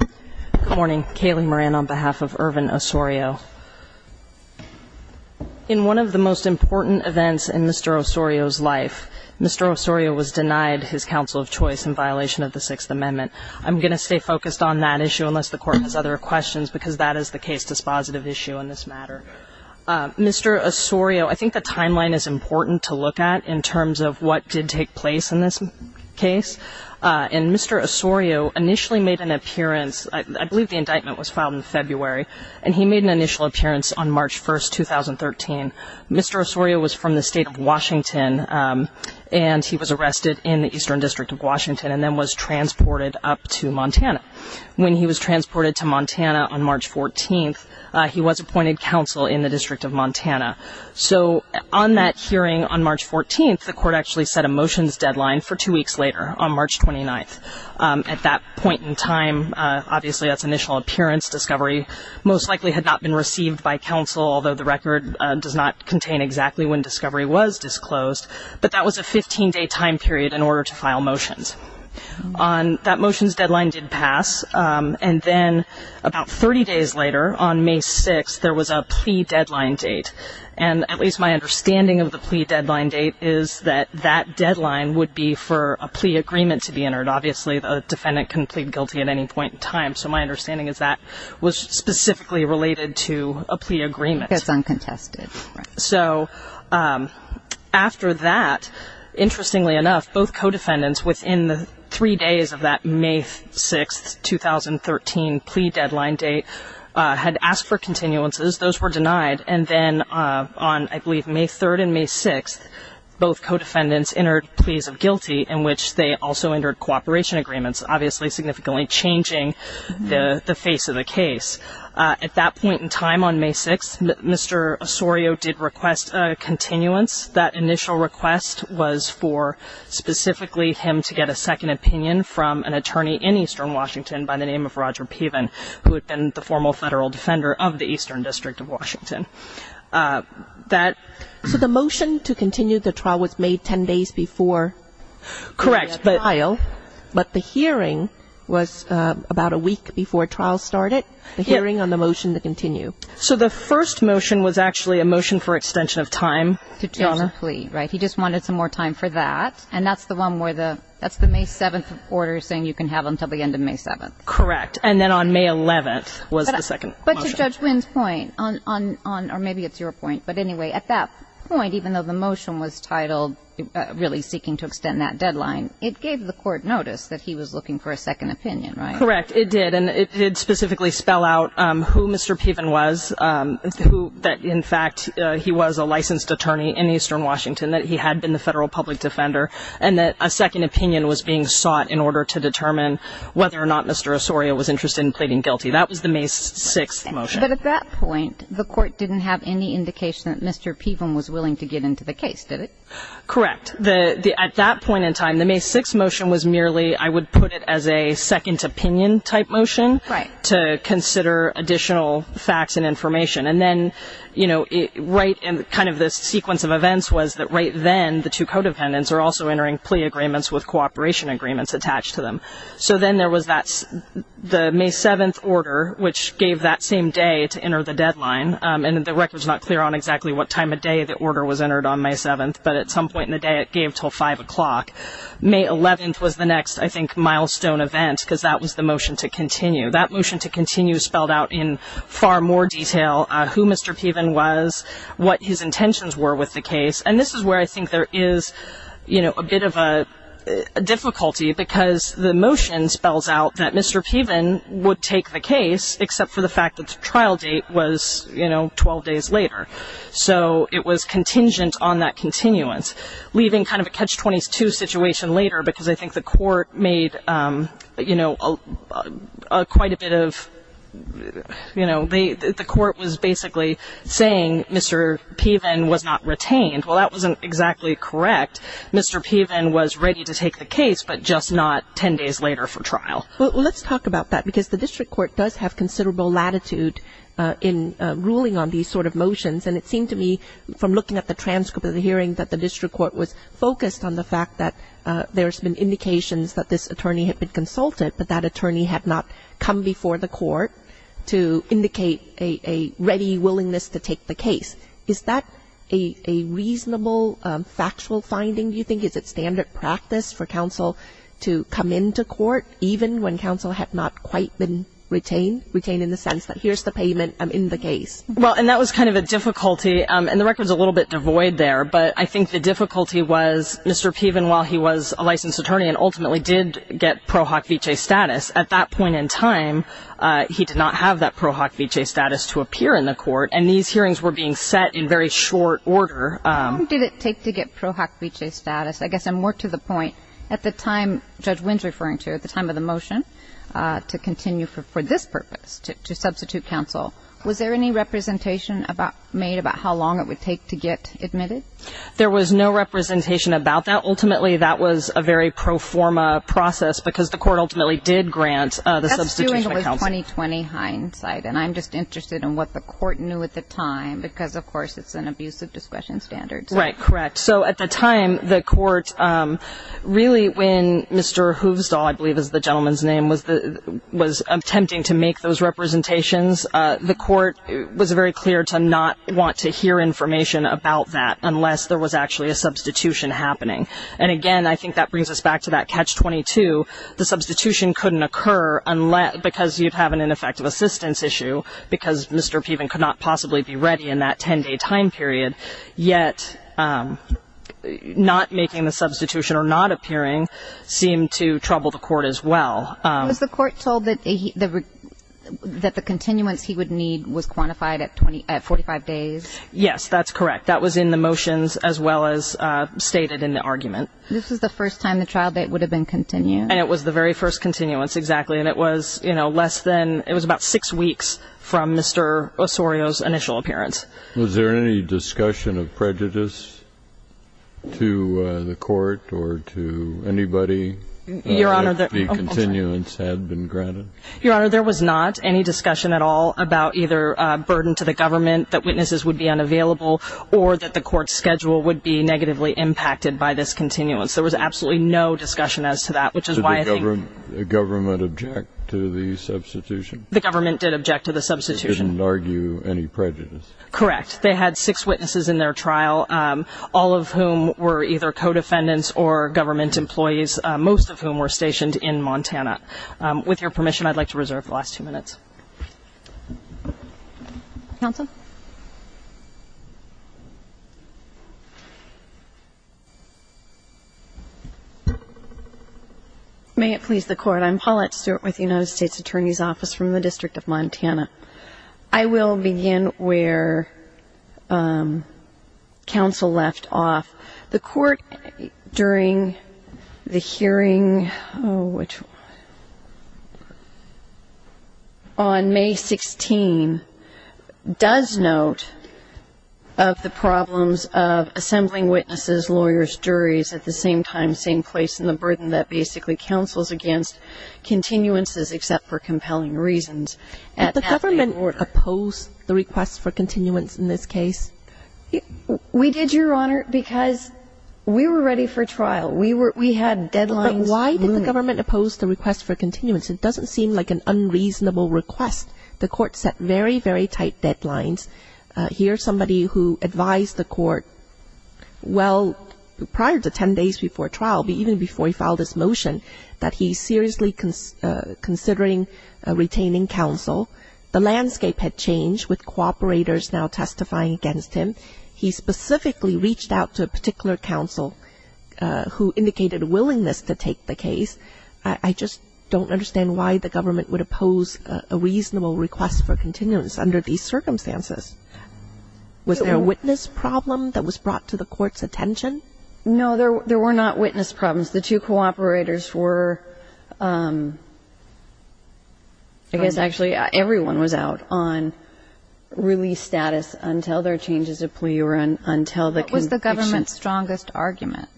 Good morning. Kayleigh Moran on behalf of Ervin Osorio. In one of the most important events in Mr. Osorio's life, Mr. Osorio was denied his counsel of choice in violation of the 6th Amendment. I'm going to stay focused on that issue unless the Court has other questions because that is the case dispositive issue in this matter. Mr. Osorio, I think the timeline is important to look at in terms of what did take place in this case. And Mr. Osorio initially made an appearance, I believe the indictment was filed in February, and he made an initial appearance on March 1st, 2013. Mr. Osorio was from the state of Washington and he was arrested in the Eastern District of Washington and then was transported up to Montana. When he was transported to Montana on March 14th, he was appointed counsel in the District of Montana. So on that hearing on March 14th, the Court actually set a motions deadline for two weeks later on March 29th. At that point in time, obviously that's initial appearance, discovery most likely had not been received by counsel, although the record does not contain exactly when discovery was disclosed, but that was a 15-day time period in order to file motions. On that motions deadline did pass, and then about 30 days later, on May 6th, there was a plea deadline date. And at least my understanding of the plea deadline date is that that deadline would be for a plea agreement to be entered. Obviously the defendant can plead guilty at any point in time, so my understanding is that was specifically related to a plea agreement. It's uncontested. So after that, interestingly enough, both had asked for continuances. Those were denied. And then on, I believe, May 3rd and May 6th, both co-defendants entered pleas of guilty in which they also entered cooperation agreements, obviously significantly changing the face of the case. At that point in time on May 6th, Mr. Osorio did request a continuance. That initial request was for specifically him to get a second opinion from an attorney in Eastern Washington by the name of Roger Osorio, a federal defender of the Eastern District of Washington. So the motion to continue the trial was made 10 days before the trial, but the hearing was about a week before trial started, the hearing on the motion to continue. So the first motion was actually a motion for extension of time. To change the plea, right. He just wanted some more time for that. And that's the one where the, that's the May 7th order saying you can have until the end of May 7th. Correct. And then on May 11th was the second motion. But to Judge Wynn's point, on, on, on, or maybe it's your point, but anyway, at that point, even though the motion was titled really seeking to extend that deadline, it gave the court notice that he was looking for a second opinion, right? Correct. It did. And it did specifically spell out who Mr. Piven was, who, that in fact, he was a licensed attorney in Eastern Washington, that he had been the federal public defender, and that a second opinion was being sought in order to determine whether or not Mr. Osorio was interested in pleading guilty. That was the May 6th motion. But at that point, the court didn't have any indication that Mr. Piven was willing to get into the case, did it? Correct. The, the, at that point in time, the May 6th motion was merely, I would put it as a second opinion type motion. Right. To consider additional facts and information. And then, you know, right, and kind of the also entering plea agreements with cooperation agreements attached to them. So then there was that, the May 7th order, which gave that same day to enter the deadline. And the record's not clear on exactly what time of day the order was entered on May 7th, but at some point in the day, it gave till 5 o'clock. May 11th was the next, I think, milestone event because that was the motion to continue. That motion to continue spelled out in far more detail who Mr. Piven was, what his intentions were with the case. And this is where I think there is, you know, a bit of a difficulty because the motion spells out that Mr. Piven would take the case except for the fact that the trial date was, you know, 12 days later. So it was contingent on that continuance, leaving kind of a catch-22 situation later because I think the court made, you know, quite a bit of, you know, the court was basically saying Mr. Piven was not retained. Well, that wasn't exactly correct. Mr. Piven was ready to take the case, but just not 10 days later for trial. Well, let's talk about that because the district court does have considerable latitude in ruling on these sort of motions. And it seemed to me from looking at the transcript of the hearing that the district court was focused on the fact that there's been indications that this attorney had been consulted, but that attorney had not come before the court to indicate a ready willingness to take the case. Is that a reasonable factual finding, do you think? Is it standard practice for counsel to come into court even when counsel had not quite been retained, retained in the sense that here's the payment, I'm in the case? Well, and that was kind of a difficulty. And the record's a little bit devoid there, but I think the difficulty was Mr. Piven, while he was a licensed attorney and ultimately did get pro hoc vicee status, at that point in time, he did not have that pro hoc vicee status to appear in the court. And these hearings were being set in very short order. How long did it take to get pro hoc vicee status? I guess I'm more to the point, at the time Judge Wynn's referring to, at the time of the motion, to continue for this purpose, to substitute counsel. Was there any representation made about how long it would take to get admitted? There was no representation about that. Ultimately, that was a very pro forma process, because the court ultimately did grant the substitution of counsel. That's doing with 2020 hindsight, and I'm just interested in what the court knew at the time, because of course it's an abuse of discretion standards. Right, correct. So at the time, the court really, when Mr. Hoovstall, I believe is the gentleman's name, was attempting to make those representations, the court was very clear to not want to hear information about that unless there was actually a substitution happening. And again, I think that brings us back to that catch-22. The substitution couldn't occur because you'd have an ineffective assistance issue, because Mr. Piven could not possibly be ready in that 10-day time period, yet not making the substitution or not appearing seemed to trouble the court as well. Was the court told that the continuance he would need was quantified at 45 days? Yes, that's correct. That was in the motions as well as stated in the argument. This was the first time the trial date would have been continued. And it was the very first continuance, exactly. And it was, you know, less than, it was about six weeks from Mr. Osorio's initial appearance. Was there any discussion of prejudice to the court or to anybody? Your Honor, there was not any discussion at all about either a burden to the government that witnesses would be unavailable or that the court's schedule would be negatively impacted by this continuance. There was absolutely no discussion as to that, which is why I think Did the government object to the substitution? The government did object to the substitution. They didn't argue any prejudice? Correct. They had six witnesses in their trial, all of whom were either co-defendants or government employees, most of whom were stationed in Montana. With your permission, I'd like to reserve the last two minutes. May it please the Court, I'm Paulette Stewart with the United States Attorney's Office from the District of Montana. I will begin where counsel left off. The Court during the hearing on May 16 does note of the problems of assembling witnesses, lawyers, juries at the same time, same place, and the burden that basically counsels against continuances except for compelling reasons. Did the government oppose the request for continuance in this case? We did, Your Honor, because we were ready for trial. We had deadlines. But why did the government oppose the request for continuance? It doesn't seem like an unreasonable request. The Court set very, very tight deadlines. Here's somebody who advised the Court, well, prior to ten days before trial, even before he filed his motion, that he's seriously considering retaining counsel. The landscape had changed with cooperators now testifying against him. He specifically reached out to a particular counsel who indicated a willingness to take the case. I just don't understand why the government would oppose a reasonable request for continuance under these circumstances. Was there a witness problem that was brought to the Court's attention? No, there were not witness problems. The two cooperators were, I guess actually everyone was out on release status until their changes of plea or until the conviction. What was the government's strongest argument?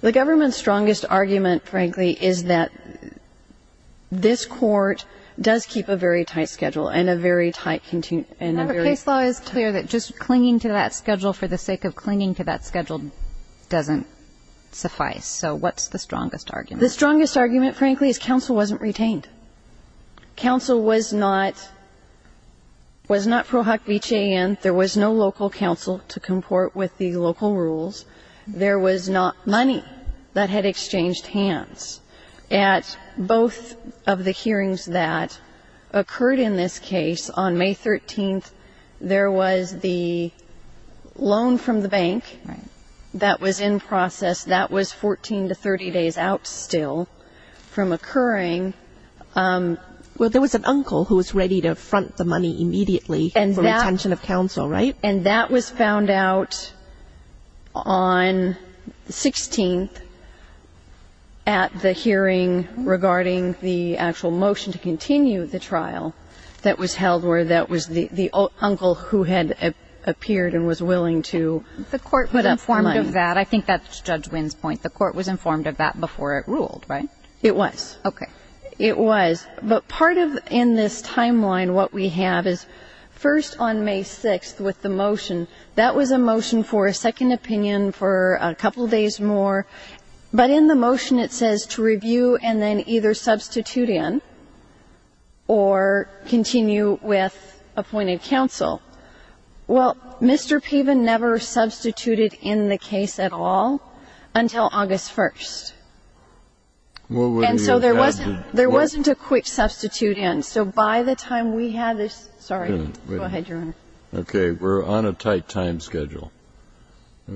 The government's strongest argument, frankly, is that this Court does keep a very tight schedule and a very tight continuance and a very tight schedule. Remember, case law is clear that just clinging to that schedule for the sake of clinging to that schedule doesn't suffice. So what's the strongest argument? The strongest argument, frankly, is counsel wasn't retained. Counsel was not pro hoc vici and there was no local counsel to comport with the local rules. There was not money that had exchanged hands. At both of the hearings that occurred in this case, on May 13th, there was the loan from the bank that was in process. That was 14 to 30 days out still from occurring. Well, there was an uncle who was ready to front the money immediately for retention of counsel, right? And that was found out on the 16th at the hearing regarding the actual motion to continue the trial that was held where that was the uncle who had appeared and was willing to put up the money. I think that's Judge Winn's point. The Court was informed of that before it ruled, right? It was. It was. But part of, in this timeline, what we have is first on May 6th with the motion, that was a motion for a second opinion for a couple days more. But in the motion it says to review and then either substitute in or continue with appointed counsel. Well, Mr. Piven never substituted in the case at all until August 1st. And so there wasn't a quick substitute in. So by the time we had this ---- sorry. Go ahead, Your Honor. Okay. We're on a tight time schedule.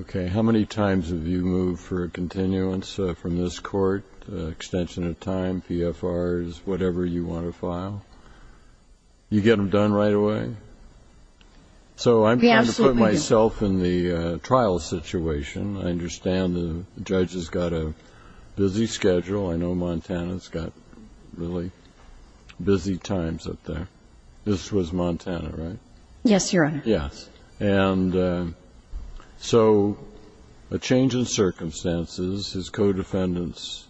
Okay. How many times have you moved for a continuance from this Court? Extension of time, PFRs, whatever you want to file? You get them done right away? We absolutely do. So I'm trying to put myself in the trial situation. I understand the judge has got a busy schedule. I know Montana's got really busy times up there. This was Montana, right? Yes, Your Honor. Yes. And so a change in circumstances, his co-defendants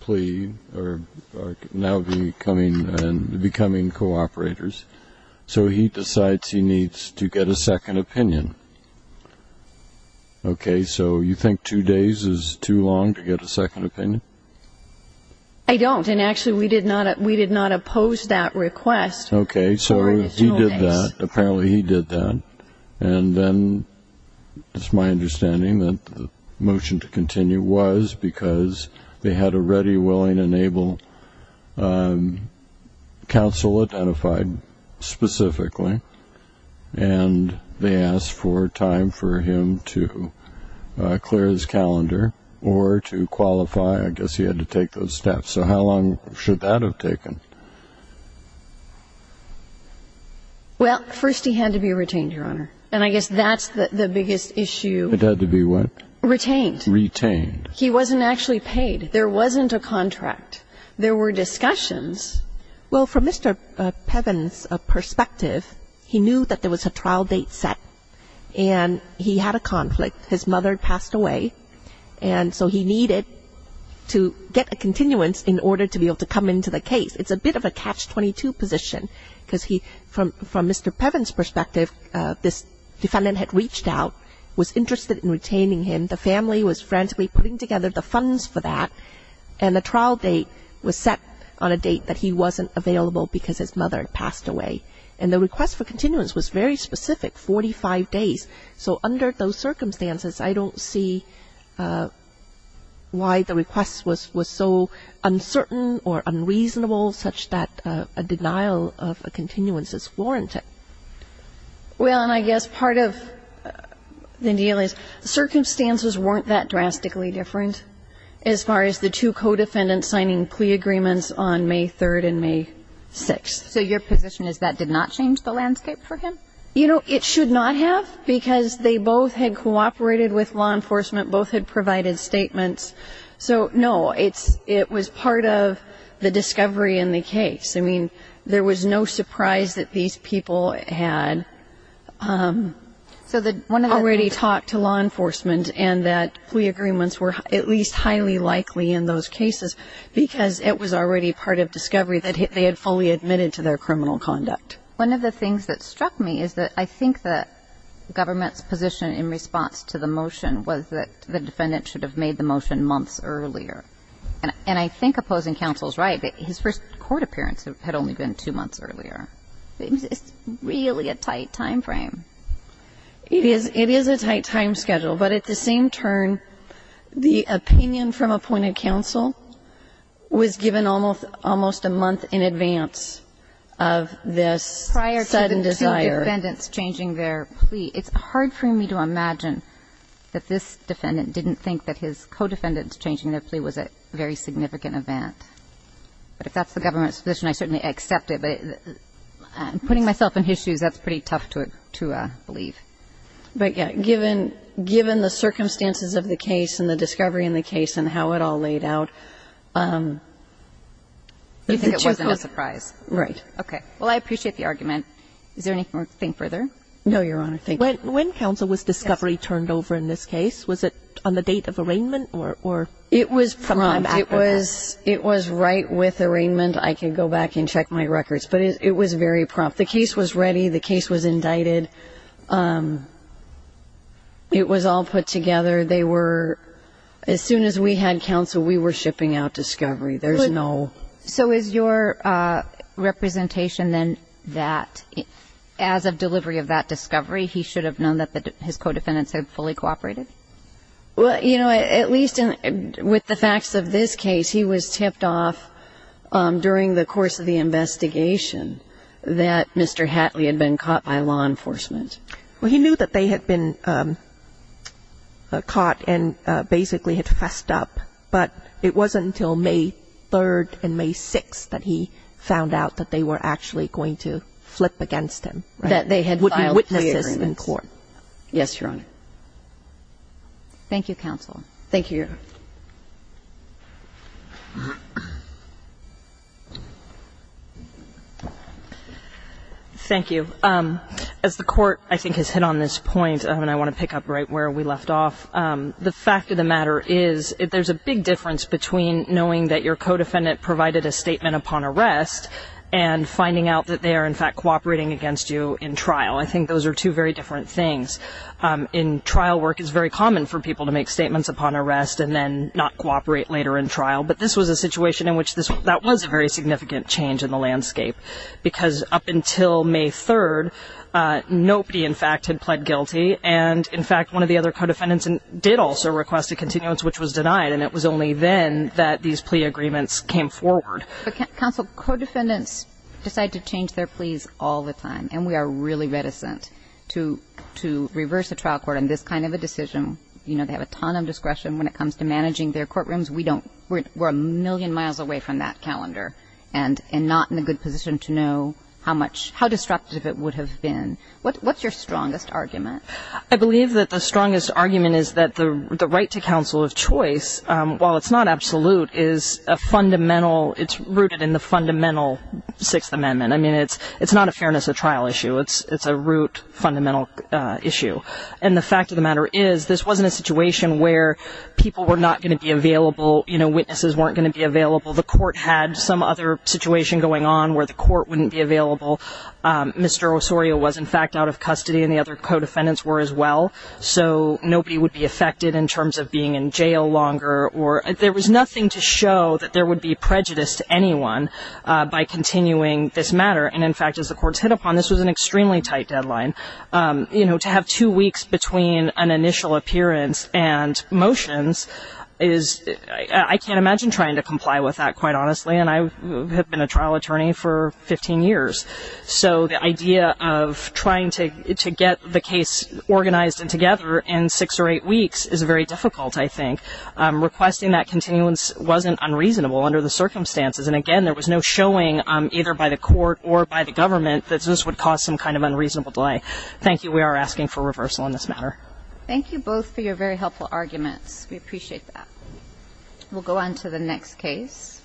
plead or are now becoming co-operators. So he decides he needs to get a second opinion. Okay. So you think two days is too long to get a second opinion? I don't. And actually we did not oppose that request for additional days. Apparently he did that. And then it's my understanding that the motion to continue was because they had a ready, willing, and able counsel identified specifically. And they asked for time for him to clear his calendar or to qualify. I guess he had to take those steps. So how long should that have taken? Well, first he had to be retained, Your Honor. And I guess that's the biggest issue. It had to be what? Retained. Retained. He wasn't actually paid. There wasn't a contract. There were discussions. Well, from Mr. Pevin's perspective, he knew that there was a trial date set. And he had a conflict. His mother passed away. And so he needed to get a continuance in order to be able to come into the case. It's a bit of a catch-22 position. Because from Mr. Pevin's perspective, this defendant had reached out, was interested in retaining him. The family was frantically putting together the funds for that. And the trial date was set on a date that he wasn't available because his mother had passed away. And the request for continuance was very specific, 45 days. So under those circumstances, I don't see why the request was so uncertain or unreasonable such that a denial of a continuance is warranted. Well, and I guess part of the deal is circumstances weren't that drastically different as far as the two co-defendants signing plea agreements on May 3rd and May 6th. So your position is that did not change the landscape for him? You know, it should not have. Because they both had cooperated with law enforcement. Both had provided statements. So no, it was part of the discovery in the case. I mean, there was no surprise that these people had already talked to law enforcement and that plea agreements were at least highly likely in those cases. Because it was already part of discovery that they had fully admitted to their criminal conduct. One of the things that struck me is that I think that government's position in response to the motion was that the defendant should have made the motion months earlier. And I think opposing counsel is right. His first court appearance had only been two months earlier. It's really a tight time frame. It is a tight time schedule. But at the same turn, the opinion from appointed counsel was given almost a month in advance of this sudden desire. It's hard for me to imagine that this defendant didn't think that his co-defendant's changing their plea was a very significant event. But if that's the government's position, I certainly accept it. But putting myself in his shoes, that's pretty tough to believe. But, yes, given the circumstances of the case and the discovery in the case and how it all laid out, you think it wasn't a surprise. Right. Okay. Well, I appreciate the argument. Is there anything further? No, Your Honor. Thank you. When counsel was discovery turned over in this case, was it on the date of arraignment or from time after that? It was prompt. It was right with arraignment. I can go back and check my records. But it was very prompt. The case was ready. The case was indicted. It was all put together. They were, as soon as we had counsel, we were shipping out discovery. There's no So is your representation, then, that as of delivery of that discovery, he should have known that his co-defendants had fully cooperated? Well, you know, at least with the facts of this case, he was tipped off during the course of the investigation that Mr. Hatley had been caught by law enforcement. Well, he knew that they had been caught and basically had fessed up. But it wasn't until May 3rd and May 6th that he found out that they were actually going to flip against him. That they had filed clearances. There would be witnesses in court. Yes, Your Honor. Thank you, counsel. Thank you, Your Honor. Thank you. As the court, I think, has hit on this point, and I want to pick up right where we left off. The fact of the matter is, there's a big difference between knowing that your co-defendant provided a statement upon arrest and finding out that they are, in fact, cooperating against you in trial. I think those are two very different things. In trial work, it's very common for people to make statements upon arrest and then not cooperate later in trial. But this was a situation in which that was a very significant change in the landscape. Because up until May 3rd, nobody, in fact, had pled guilty. And, in fact, the other co-defendants did also request a continuance, which was denied. And it was only then that these plea agreements came forward. But, counsel, co-defendants decide to change their pleas all the time. And we are really reticent to reverse a trial court on this kind of a decision. You know, they have a ton of discretion when it comes to managing their courtrooms. We don't. We're a million miles away from that calendar. And not in a good position to know how much, how disruptive it would have been. What's your strongest argument? I believe that the strongest argument is that the right to counsel of choice, while it's not absolute, is a fundamental, it's rooted in the fundamental Sixth Amendment. I mean, it's not a fairness of trial issue. It's a root fundamental issue. And the fact of the matter is, this wasn't a situation where people were not going to be available, you know, witnesses weren't going to be available. The court had some other situation going on where the court wouldn't be available. Mr. Osorio was, in fact, out of custody and the other co-defendants were as well. So nobody would be affected in terms of being in jail longer or, there was nothing to show that there would be prejudice to anyone by continuing this matter. And in fact, as the courts hit upon, this was an extremely tight deadline. You know, to have two weeks between an initial appearance and motions is, I can't imagine trying to comply with that, quite honestly. And I have been a trial attorney for 15 years. So the idea of trying to get the case organized and together in six or eight weeks is very difficult, I think. Requesting that continuance wasn't unreasonable under the circumstances. And again, there was no showing either by the court or by the government that this would cause some kind of unreasonable delay. Thank you. We are asking for reversal on this matter. Thank you both for your very helpful arguments. We appreciate that. We'll go on to the next case.